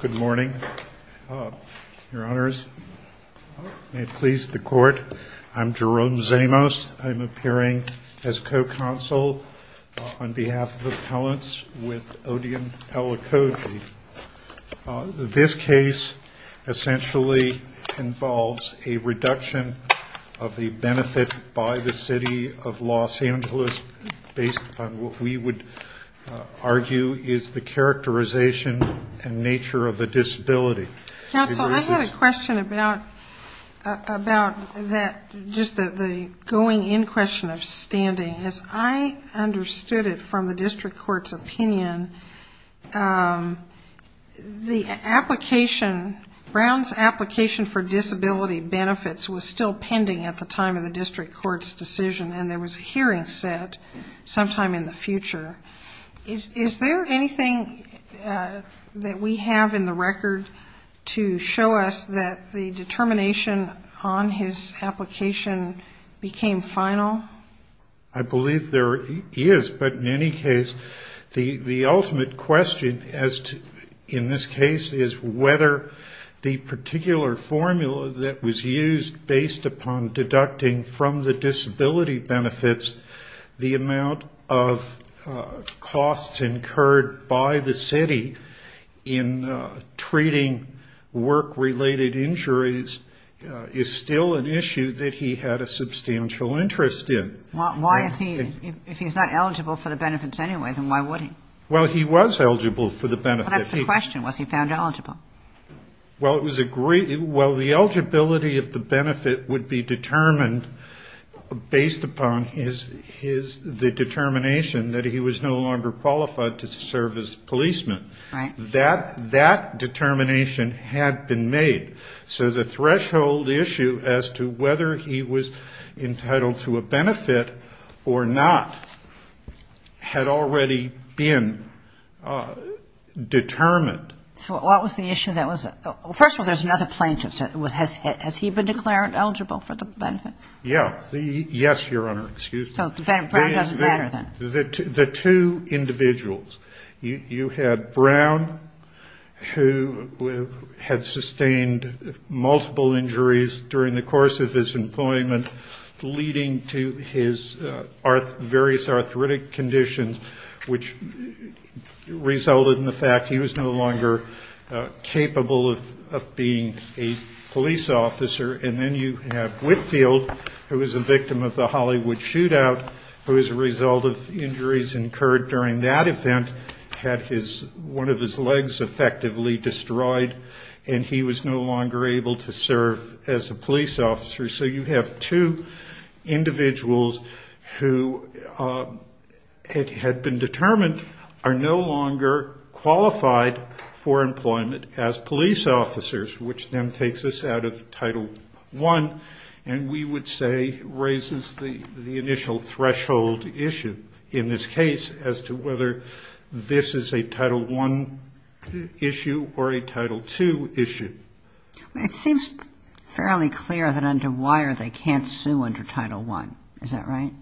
Good morning, your honors. May it please the court, I'm Jerome Zamos. I'm appearing as co-counsel on behalf of appellants with Odeon Elekoji. This case essentially involves a reduction of the benefit by the city of Los Angeles based upon what we would argue is the characterization and nature of a disability. Counsel, I have a question about that, just the going in question of standing. As I understood it from the district court's opinion, Brown's application for disability benefits was still pending at the time of the district court's decision and there was a hearing set sometime in the future. Is there anything that we have in the record to show us that the determination on his application became final? I believe there is, but in any case, the ultimate question in this case is whether the particular formula that was used based upon deducting from the disability benefits the amount of costs incurred by the city in treating work-related injuries is still an issue that he had a substantial interest in. Well, why if he's not eligible for the benefits anyway, then why would he? Well, he was eligible for the benefits. Well, that's the question. Was he found eligible? Well, the eligibility of the benefit would be determined based upon the determination that he was no longer qualified to serve as a policeman. Right. And that determination had been made. So the threshold issue as to whether he was entitled to a benefit or not had already been determined. So what was the issue that was – first of all, there's another plaintiff. Has he been declared eligible for the benefit? Yeah. Yes, Your Honor. Excuse me. So Brown doesn't matter then? The two individuals. You had Brown, who had sustained multiple injuries during the course of his employment, leading to his various arthritic conditions, which resulted in the fact he was no longer capable of being a police officer. And then you have Whitfield, who as a result of injuries incurred during that event had one of his legs effectively destroyed and he was no longer able to serve as a police officer. So you have two individuals who had been determined are no longer qualified for employment as police officers, which then threshold issue in this case as to whether this is a Title I issue or a Title II issue. It seems fairly clear that under Weyer they can't sue under Title I. Is that right?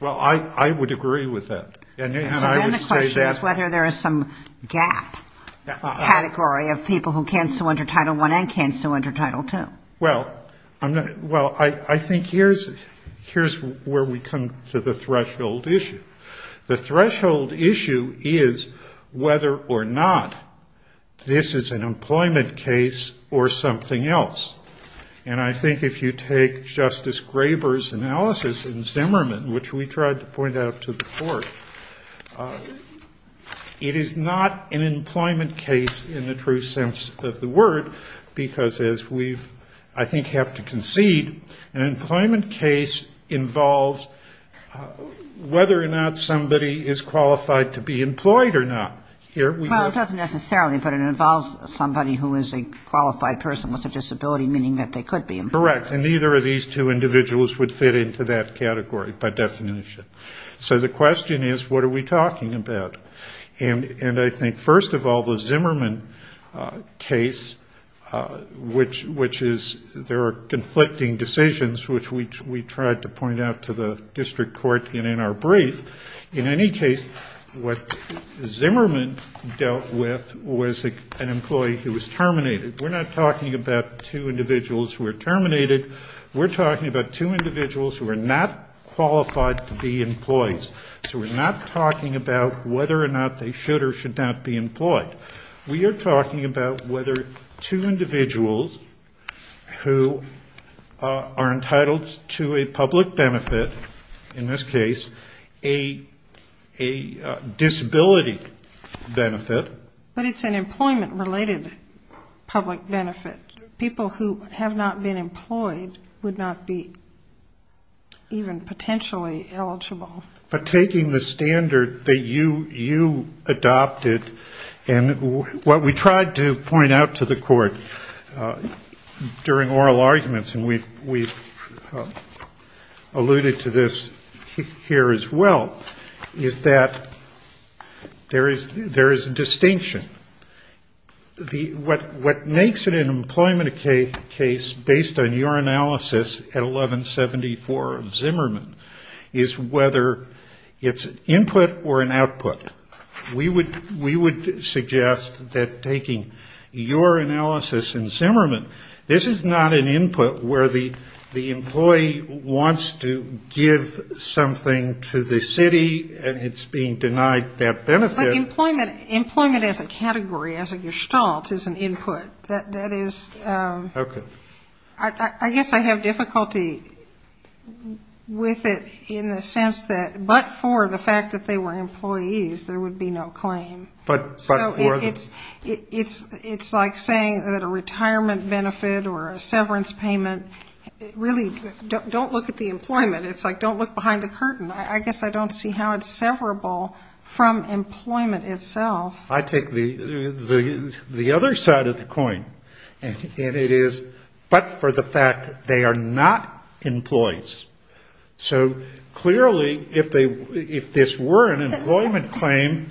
Well, I would agree with that. So then the question is whether there is some gap category of people who can't sue under Title I and can't sue under Title II. Well, I think here's where we come to the threshold issue. The threshold issue is whether or not this is an employment case or something else. And I think if you take Justice Graber's analysis in Zimmerman, which we tried to point out to the Court, it is not an employment case in the true sense of the word, because as we, I think, have to concede, an employment case involves whether or not somebody is qualified to be employed or not. Well, it doesn't necessarily, but it involves somebody who is a qualified person with a disability, meaning that they could be employed. Correct. And neither of these two individuals would fit into that category by definition. So the question is, what are we talking about? And I think, first of all, the Zimmerman case, which is there are conflicting decisions, which we tried to point out to the District Court and in our brief. In any case, what Zimmerman dealt with was an employee who was terminated. We're not talking about two individuals who were terminated. We're talking about two employees. So we're not talking about whether or not they should or should not be employed. We are talking about whether two individuals who are entitled to a public benefit, in this case a disability benefit. But it's an employment-related public benefit. People who have not been employed would not be even potentially eligible. But taking the standard that you adopted and what we tried to point out to the Court during oral arguments, and we've alluded to this here as well, is that there is a distinction. What makes it an employment case, based on your analysis at 1174 of Zimmerman, is whether it's input or an output. We would suggest that taking your analysis in Zimmerman, this is not an input where the employee wants to give something to the city and it's being denied that benefit. Employment as a category, as a gestalt, is an input. That is, I guess I have difficulty with it in the sense that, but for the fact that they were employees, there would be no claim. But for the? It's like saying that a retirement benefit or a severance payment, really, don't look at the employment. It's like, don't look behind the curtain. I guess I don't see how it's I take the other side of the coin. And it is, but for the fact that they are not employees. So clearly, if this were an employment claim,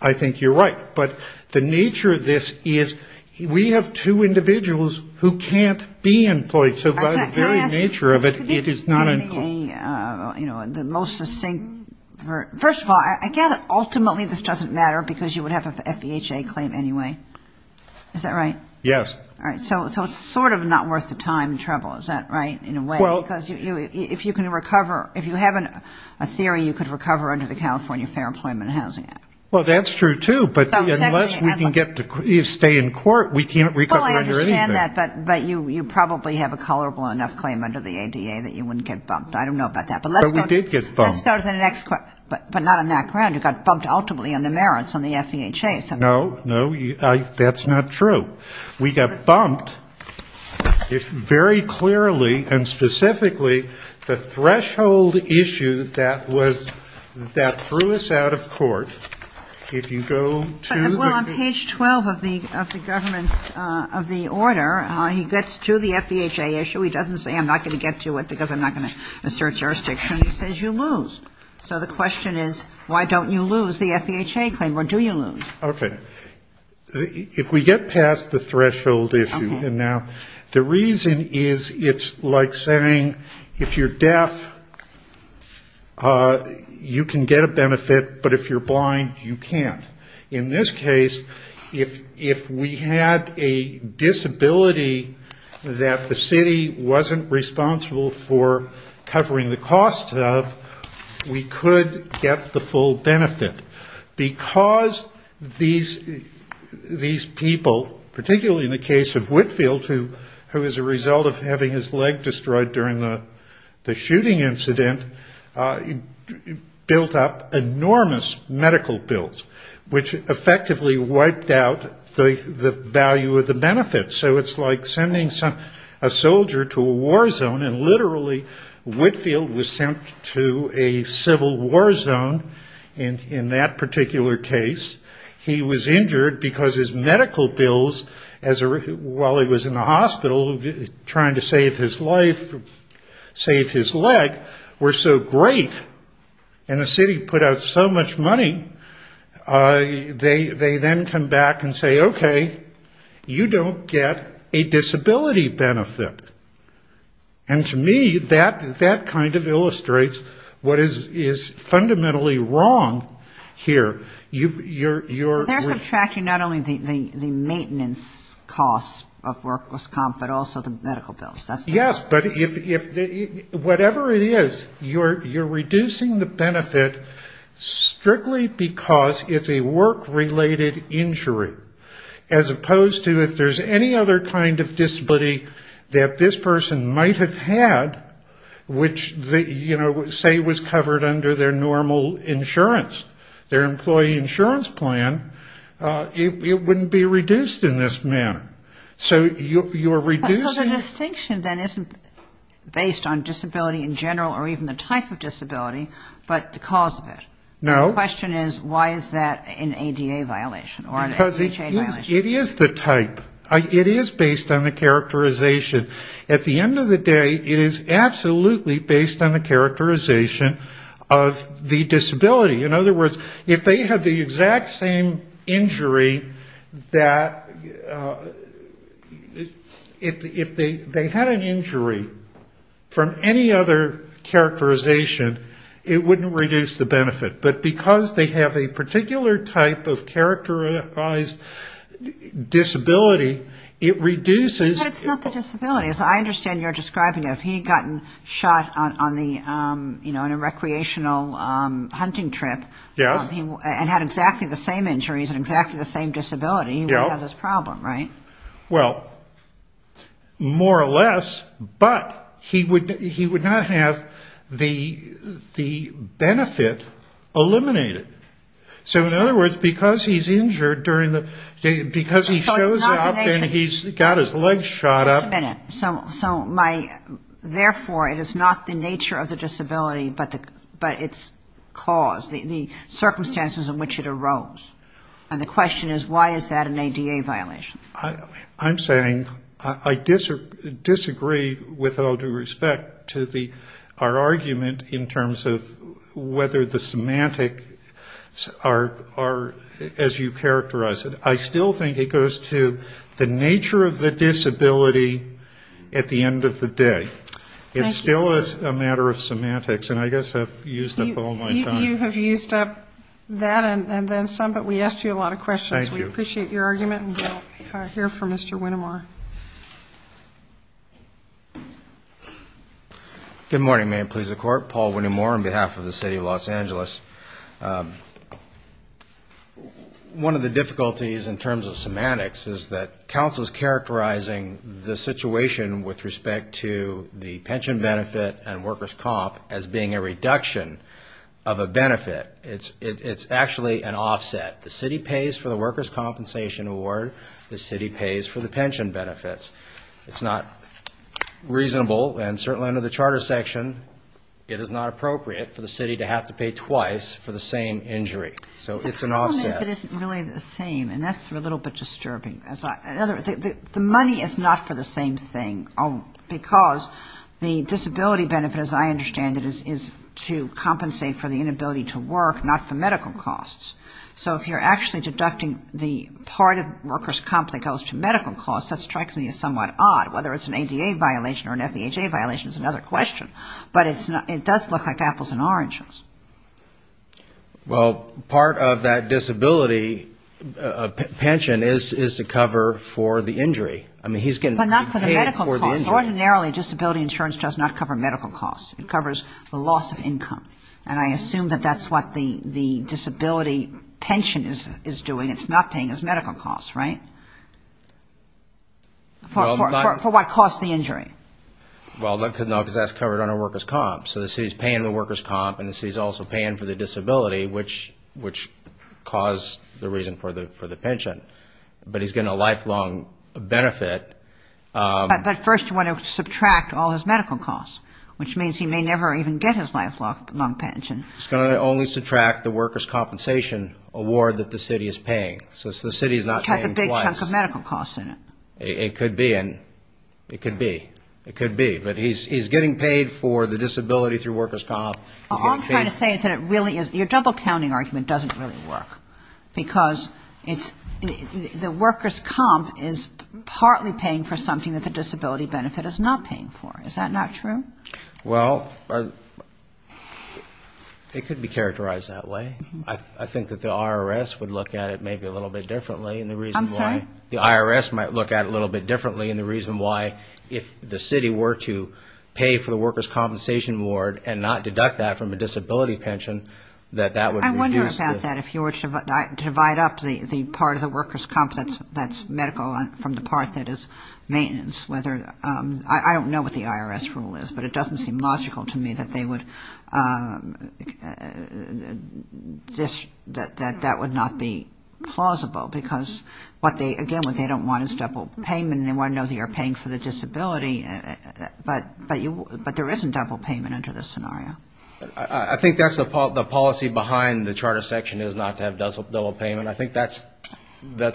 I think you're right. But the nature of this is we have two individuals who can't be employed. So by the very nature of it, it is not an employee. The most succinct, first of all, I gather ultimately this doesn't matter because you would have a FEHA claim anyway. Is that right? Yes. So it's sort of not worth the time and trouble. Is that right, in a way? Because if you can recover, if you have a theory, you could recover under the California Fair Employment and Housing Act. Well, that's true, too. But unless we can get to stay in court, we can't recover under anything. Well, I understand that. But you probably have a colorable enough claim under the ADA that you wouldn't get bumped. I don't know about that. But we did get bumped. But let's go to the next question. But not on that ground. You got bumped ultimately on the merits on the FEHA. No, no. That's not true. We got bumped very clearly and specifically the threshold issue that was that threw us out of court. If you go to the Well, on page 12 of the government's of the order, he gets to the FEHA issue. He doesn't say I'm not going to get to it because I'm not going to assert jurisdiction. He says you lose. So the question is, why don't you lose the FEHA claim? Or do you lose? Okay. If we get past the threshold issue now, the reason is it's like saying if you're deaf, you can get a benefit. But if you're blind, you can't. In this case, if we had a disability that the city wasn't responsible for covering the cost of, we could get the full benefit. Because these people, particularly in the case of Whitfield, who was a result of having his leg destroyed during the shooting incident, built up enormous medical bills, which effectively wiped out the value of the benefits. So it's like sending a soldier to a war zone and literally Whitfield was sent to a civil war zone in that particular case. He was injured because his medical bills, while he was in the hospital, trying to save his life, save his leg, were so great, and the city put out so much money, they then come back and say, okay, you don't get a disability benefit. And to me, that kind of illustrates what is fundamentally wrong here. You're subtracting not only the maintenance costs of workless comp, but also the medical bills. Yes, but whatever it is, you're reducing the benefit strictly because it's a work-related injury, as opposed to if there's any other kind of disability that this person might have had, which, you know, say was covered under their normal insurance, their employee insurance plan, it wouldn't be reduced in this manner. So you're reducing... So the distinction then isn't based on disability in general, or even the type of disability, but the cause of it. No. The question is, why is that an ADA violation or an HHA violation? Because it is the type. It is based on the characterization. At the end of the day, it is absolutely based on the characterization of the disability. In other words, if they had the exact same injury that, if they had an injury from any other characterization, it wouldn't reduce the benefit. But because they have a particular type of characterized disability, it reduces... But it's not the disability. I understand you're describing it. If he had gotten shot on the, you know, on a recreational hunting trip... Yes. And had exactly the same injuries and exactly the same disability... Yes. He wouldn't have this problem, right? Well, more or less, but he would not have the benefit eliminated. So in other words, because he's injured during the... So it's not the nature... Because he shows up and he's got his legs shot up... Just a minute. So therefore, it is not the nature of the disability, but its cause, the circumstances in which it arose. And the question is, why is that an ADA violation? I'm saying I disagree with all due respect to our argument in terms of whether the semantics are as you characterize it. I still think it goes to the nature of the disability at the end of the day. Thank you. It still is a matter of semantics. And I guess I've used up all my time. You have used up that and then some, but we asked you a lot of questions. Thank you. We appreciate your argument and we'll hear from Mr. Whittemore. Good morning. May it please the Court. Paul Whittemore on behalf of the City of Los Angeles. One of the difficulties in terms of semantics is that counsel is characterizing the situation with respect to the pension benefit and workers' comp as being a reduction of a benefit. It's actually an offset. The city pays for the workers' compensation award. The city pays for the pension benefits. It's not reasonable, and certainly under the Charter section, it is not appropriate for the city to have to pay twice for the same injury. So it's an offset. The problem is it isn't really the same, and that's a little bit disturbing. The money is not for the same thing because the disability benefit, as I understand it, is to compensate for the inability to work, not for medical costs. So if you're actually deducting the part of workers' comp that goes to medical costs, that strikes me as somewhat odd, whether it's an ADA violation or an FEHA violation is another question. But it does look like apples and oranges. Well, part of that disability pension is to cover for the injury. I mean, he's getting paid for the injury. But ordinarily disability insurance does not cover medical costs. It covers the loss of income. And I assume that that's what the disability pension is doing. It's not paying his medical costs, right? For what cost, the injury? Well, no, because that's covered under workers' comp. So the city's paying the workers' comp, and the city's also paying for the disability, which caused the reason for the pension. But he's getting a lifelong benefit. But first you want to subtract all his medical costs, which means he may never even get his lifelong pension. He's going to only subtract the workers' compensation award that the city is paying. So the city's not paying twice. Which has a big chunk of medical costs in it. It could be. It could be. It could be. But he's getting paid for the disability through workers' comp. All I'm trying to say is that it really is, your double-counting argument doesn't really work. Because the workers' comp is partly paying for something that the disability benefit is not paying for. Is that not true? Well, it could be characterized that way. I think that the IRS would look at it maybe a little bit differently. I'm sorry? The IRS might look at it a little bit differently. And the reason why, if the city were to pay for the workers' compensation award and not deduct that from a disability pension, that that would reduce the divide up the part of the workers' comp that's medical from the part that is maintenance. I don't know what the IRS rule is. But it doesn't seem logical to me that they would that that would not be plausible. Because, again, what they don't want is double payment. They want to know that you're paying for the disability. But there isn't double payment under this scenario. I think that's the policy behind the charter section is not to have double payment. I think that's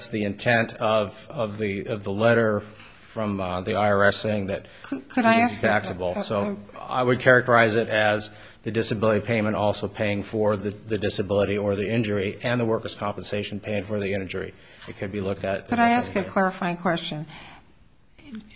the intent of the letter from the IRS saying that it would be taxable. So I would characterize it as the disability payment also paying for the disability or the injury and the workers' compensation paying for the injury. It could be looked at. Could I ask a clarifying question?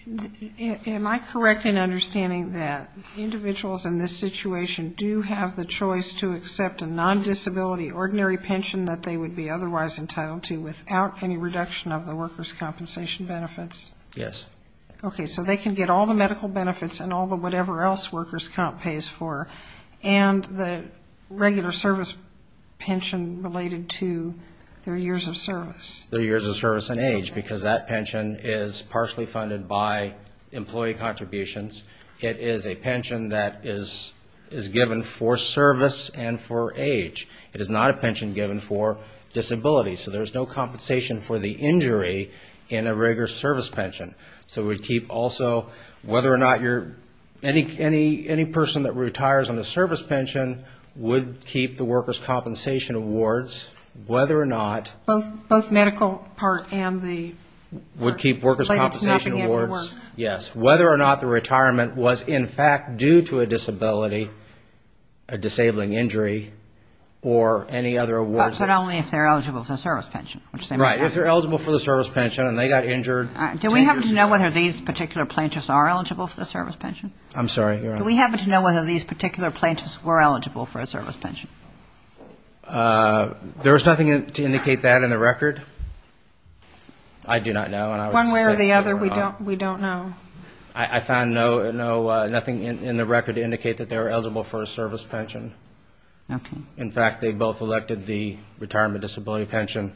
Am I correct in understanding that individuals in this situation do have the choice to accept a non-disability ordinary pension that they would be otherwise entitled to without any reduction of the workers' compensation benefits? Yes. Okay. So they can get all the medical benefits and all the whatever else workers' comp pays for and the regular service pension related to their years of service. Their years of service and age because that pension is partially funded by employee contributions. It is a pension that is given for service and for age. It is not a pension given for disability. So there's no compensation for the injury in a regular service pension. So we keep also whether or not you're any person that retires on a service pension would keep the workers' compensation awards whether or not. Both medical part and the. Would keep workers' compensation awards. Yes. Whether or not the retirement was in fact due to a disability, a disabling injury or any other awards. But only if they're eligible for the service pension. Right. If they're eligible for the service pension and they got injured. Do we happen to know whether these particular plaintiffs are eligible for the service pension? I'm sorry. Do we happen to know whether these particular plaintiffs were eligible for a service pension? There is nothing to indicate that in the record. I do not know. One way or the other, we don't know. I found nothing in the record to indicate that they were eligible for a service pension. Okay. In fact, they both elected the retirement disability pension.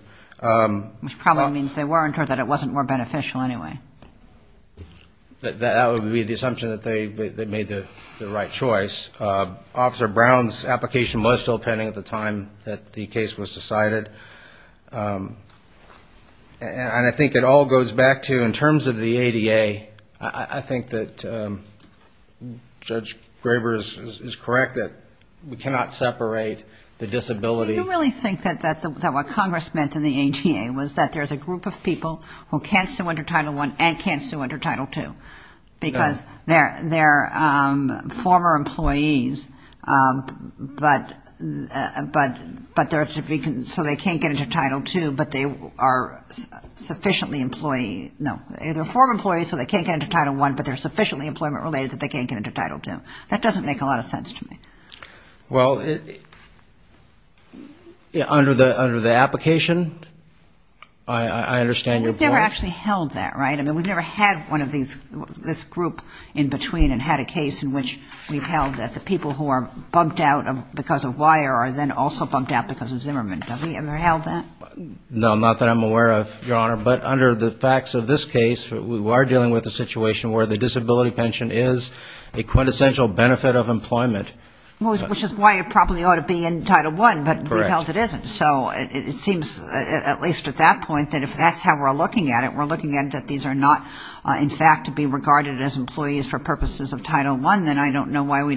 Which probably means they weren't or that it wasn't more beneficial anyway. That would be the assumption that they made the right choice. Officer Brown's application was still pending at the time that the case was decided. And I think it all goes back to in terms of the ADA, I think that Judge Graber is correct that we cannot separate the disability. Do you really think that what Congress meant in the ADA was that there's a group of people who can't sue under Title I and can't sue under Title II? No. They're former employees, but they're so they can't get into Title II, but they are sufficiently employee. No. They're former employees, so they can't get into Title I, but they're sufficiently employment related that they can't get into Title II. That doesn't make a lot of sense to me. Well, under the application, I understand your point. We've never actually held that, right? I mean, we've never had one of these, this group in between and had a case in which we've held that the people who are bumped out because of wire are then also bumped out because of Zimmerman. Have we ever held that? No, not that I'm aware of, Your Honor. But under the facts of this case, we are dealing with a situation where the disability pension is a quintessential benefit of employment. Which is why it probably ought to be in Title I, but we've held it isn't. Correct. So it seems, at least at that point, that if that's how we're looking at it, we're looking at it that these are not, in fact, to be regarded as employees for purposes of Title I, then I don't know why they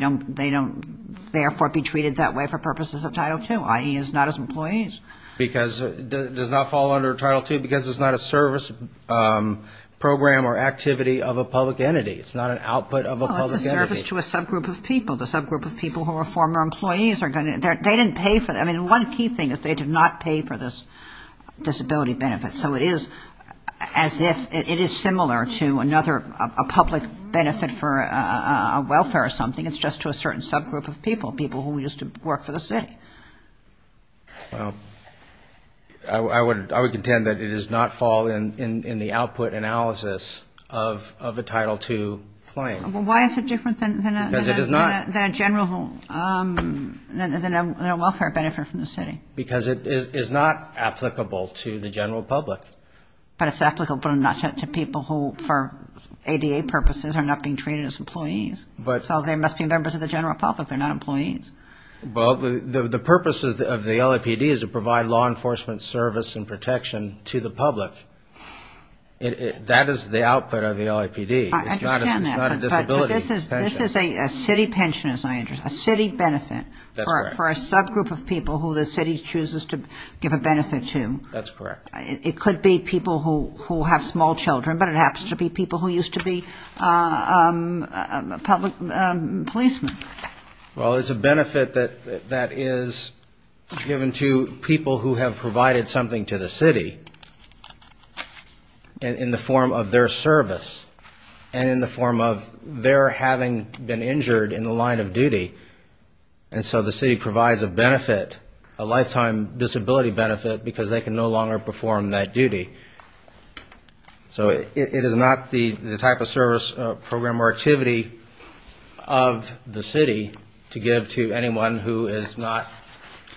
don't therefore be treated that way for purposes of Title II, i.e. is not as employees. Because it does not fall under Title II because it's not a service program or activity of a public entity. It's not an output of a public entity. Well, it's a service to a subgroup of people. The subgroup of people who are former employees are going to they didn't pay for them. I mean, one key thing is they did not pay for this disability benefit. So it is as if it is similar to another, a public benefit for welfare or something. It's just to a certain subgroup of people, people who used to work for the city. Well, I would contend that it does not fall in the output analysis of a Title II claim. Well, why is it different than a general, than a welfare benefit from the city? Because it is not applicable to the general public. But it's applicable to people who for ADA purposes are not being treated as employees. So they must be members of the general public. They're not employees. Well, the purpose of the LAPD is to provide law enforcement service and protection to the public. That is the output of the LAPD. It's not a disability. This is a city pension, as I understand, a city benefit for a subgroup of people who the city chooses to give a benefit to. That's correct. It could be people who have small children, but it happens to be people who used to be public policemen. Well, it's a benefit that is given to people who have provided something to the city in the form of their service and in the form of their having been injured in the line of duty. And so the city provides a benefit, a lifetime disability benefit, because they can no longer perform that duty. So it is not the type of service, program, or activity of the city to give to anyone who is not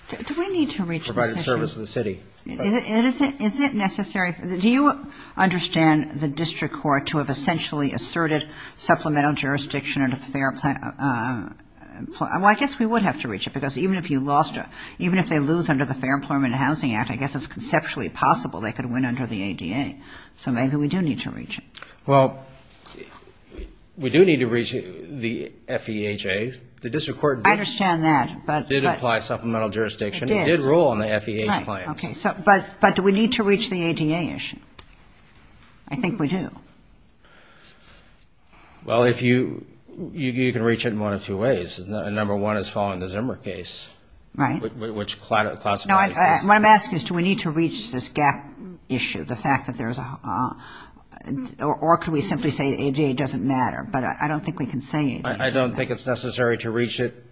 provided service to the city. Do we need to reach this issue? Is it necessary? Do you understand the district court to have essentially asserted supplemental jurisdiction under the Fair Employment Act? Well, I guess we would have to reach it, because even if you lost it, even if they lose under the Fair Employment and Housing Act, I guess it's conceptually possible they could win under the ADA. So maybe we do need to reach it. Well, we do need to reach the FEHA. The district court did apply supplemental jurisdiction. It did. It did rule on the FEHA's claims. Right. Okay. But do we need to reach the ADA issue? I think we do. Well, you can reach it in one of two ways. Number one is following the Zimmer case. Right. Which classifies this. No, what I'm asking is do we need to reach this gap issue, the fact that there's a, or could we simply say ADA doesn't matter? But I don't think we can say ADA. I don't think it's necessary to reach it.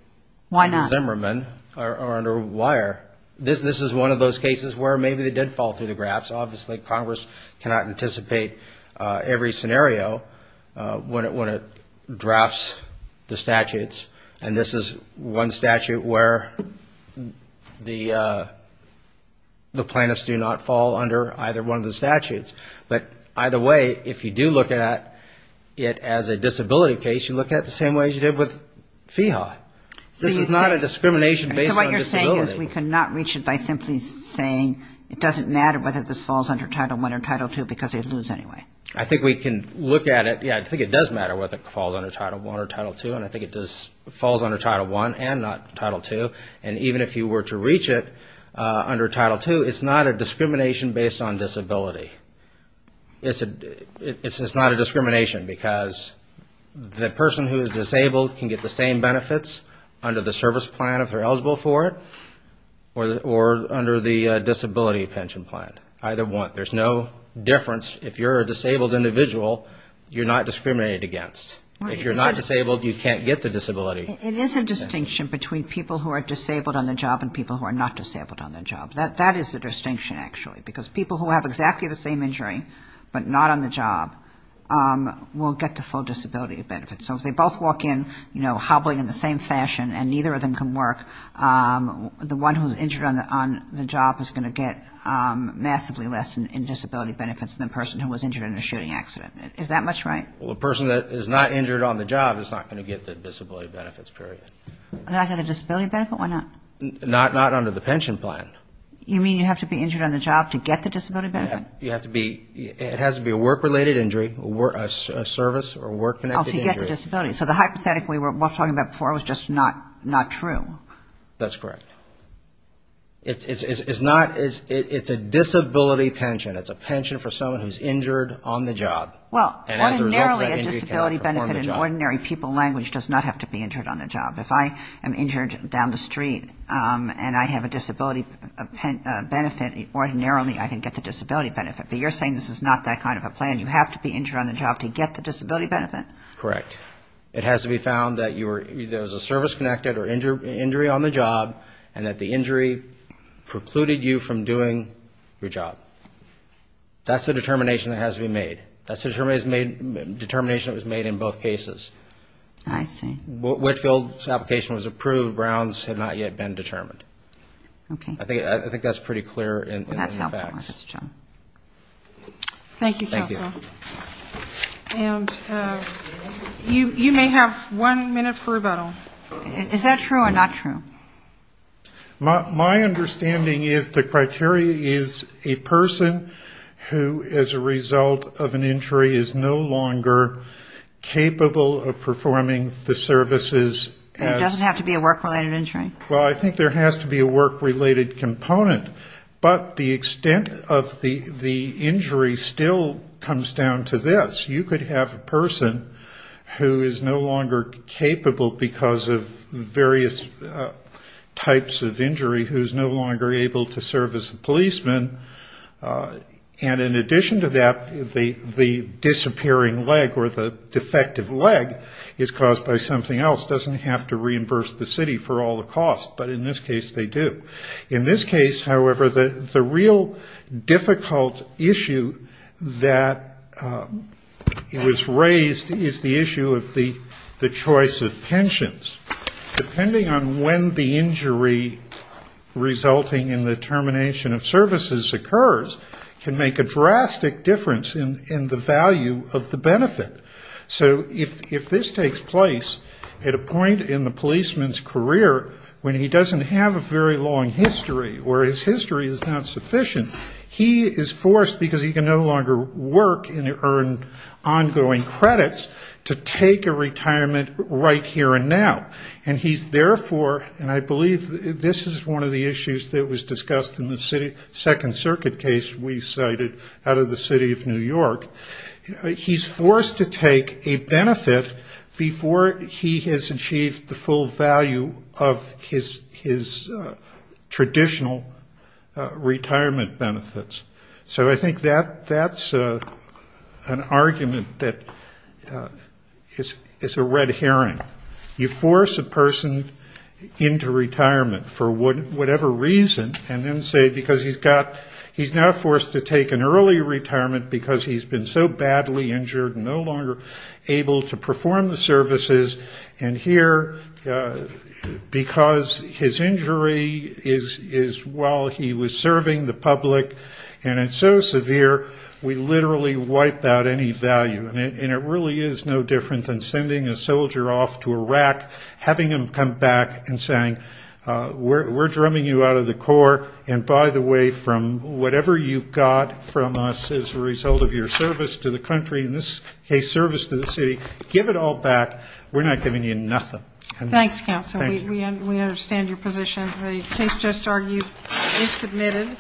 Why not? The Zimmerman are under wire. This is one of those cases where maybe they did fall through the graphs. Obviously Congress cannot anticipate every scenario when it drafts the statutes. And this is one statute where the plaintiffs do not fall under either one of the statutes. But either way, if you do look at it as a disability case, you look at it the same way as you did with FEHA. This is not a discrimination based on disability. My point is we cannot reach it by simply saying it doesn't matter whether this falls under Title I or Title II because they lose anyway. I think we can look at it. Yeah, I think it does matter whether it falls under Title I or Title II. And I think it falls under Title I and not Title II. And even if you were to reach it under Title II, it's not a discrimination based on disability. It's not a discrimination because the person who is disabled can get the same benefits under the service plan if they're eligible for it or under the disability pension plan. Either one. There's no difference. If you're a disabled individual, you're not discriminated against. If you're not disabled, you can't get the disability. It is a distinction between people who are disabled on the job and people who are not disabled on the job. That is a distinction, actually, because people who have exactly the same injury but not on the job will get the full disability benefit. So if they both walk in, you know, hobbling in the same fashion and neither of them can work, the one who's injured on the job is going to get massively less in disability benefits than the person who was injured in a shooting accident. Is that much right? Well, a person that is not injured on the job is not going to get the disability benefits, period. Not get a disability benefit? Why not? Not under the pension plan. You mean you have to be injured on the job to get the disability benefit? You have to be. It has to be a work-related injury, a service or work-connected injury. Oh, to get the disability. So the hypothetic we were talking about before was just not true. That's correct. It's not. It's a disability pension. It's a pension for someone who's injured on the job. Well, ordinarily a disability benefit in ordinary people language does not have to be injured on the job. If I am injured down the street and I have a disability benefit, ordinarily I can get the disability benefit. But you're saying this is not that kind of a plan. You have to be injured on the job to get the disability benefit? Correct. It has to be found that there was a service-connected or injury on the job and that the injury precluded you from doing your job. That's the determination that has to be made. That's the determination that was made in both cases. I see. Whitfield's application was approved. Brown's had not yet been determined. I think that's pretty clear in the facts. That's helpful. Thank you, counsel. Thank you. And you may have one minute for rebuttal. Is that true or not true? My understanding is the criteria is a person who, as a result of an injury, is no longer capable of performing the services. It doesn't have to be a work-related injury? Well, I think there has to be a work-related component. But the extent of the injury still comes down to this. You could have a person who is no longer capable because of various types of injury who is no longer able to serve as a policeman. And in addition to that, the disappearing leg or the defective leg is caused by something else, doesn't have to reimburse the city for all the costs. But in this case, they do. In this case, however, the real difficult issue that was raised is the issue of the choice of pensions. Depending on when the injury resulting in the termination of services occurs can make a drastic difference in the value of the benefit. So if this takes place at a point in the policeman's career when he doesn't have a very long history or his history is not sufficient, he is forced because he can no longer work and earn ongoing credits to take a retirement right here and now. And he's therefore, and I believe this is one of the issues that was discussed in the Second Circuit case we cited out of the city of New York, he's forced to take a benefit before he has achieved the full value of his traditional retirement benefits. So I think that's an argument that is a red herring. You force a person into retirement for whatever reason and then say because he's now forced to take an early retirement because he's been so badly injured and no longer able to perform the services and here because his injury is while he was serving the public and it's so severe, we literally wipe out any value. And it really is no different than sending a soldier off to Iraq, having him come back and saying we're drumming you out of the Corps and by the way from whatever you've got from us as a result of your service to the country, this case service to the city, give it all back. We're not giving you nothing. Thanks, Counsel. We understand your position. The case just argued is submitted.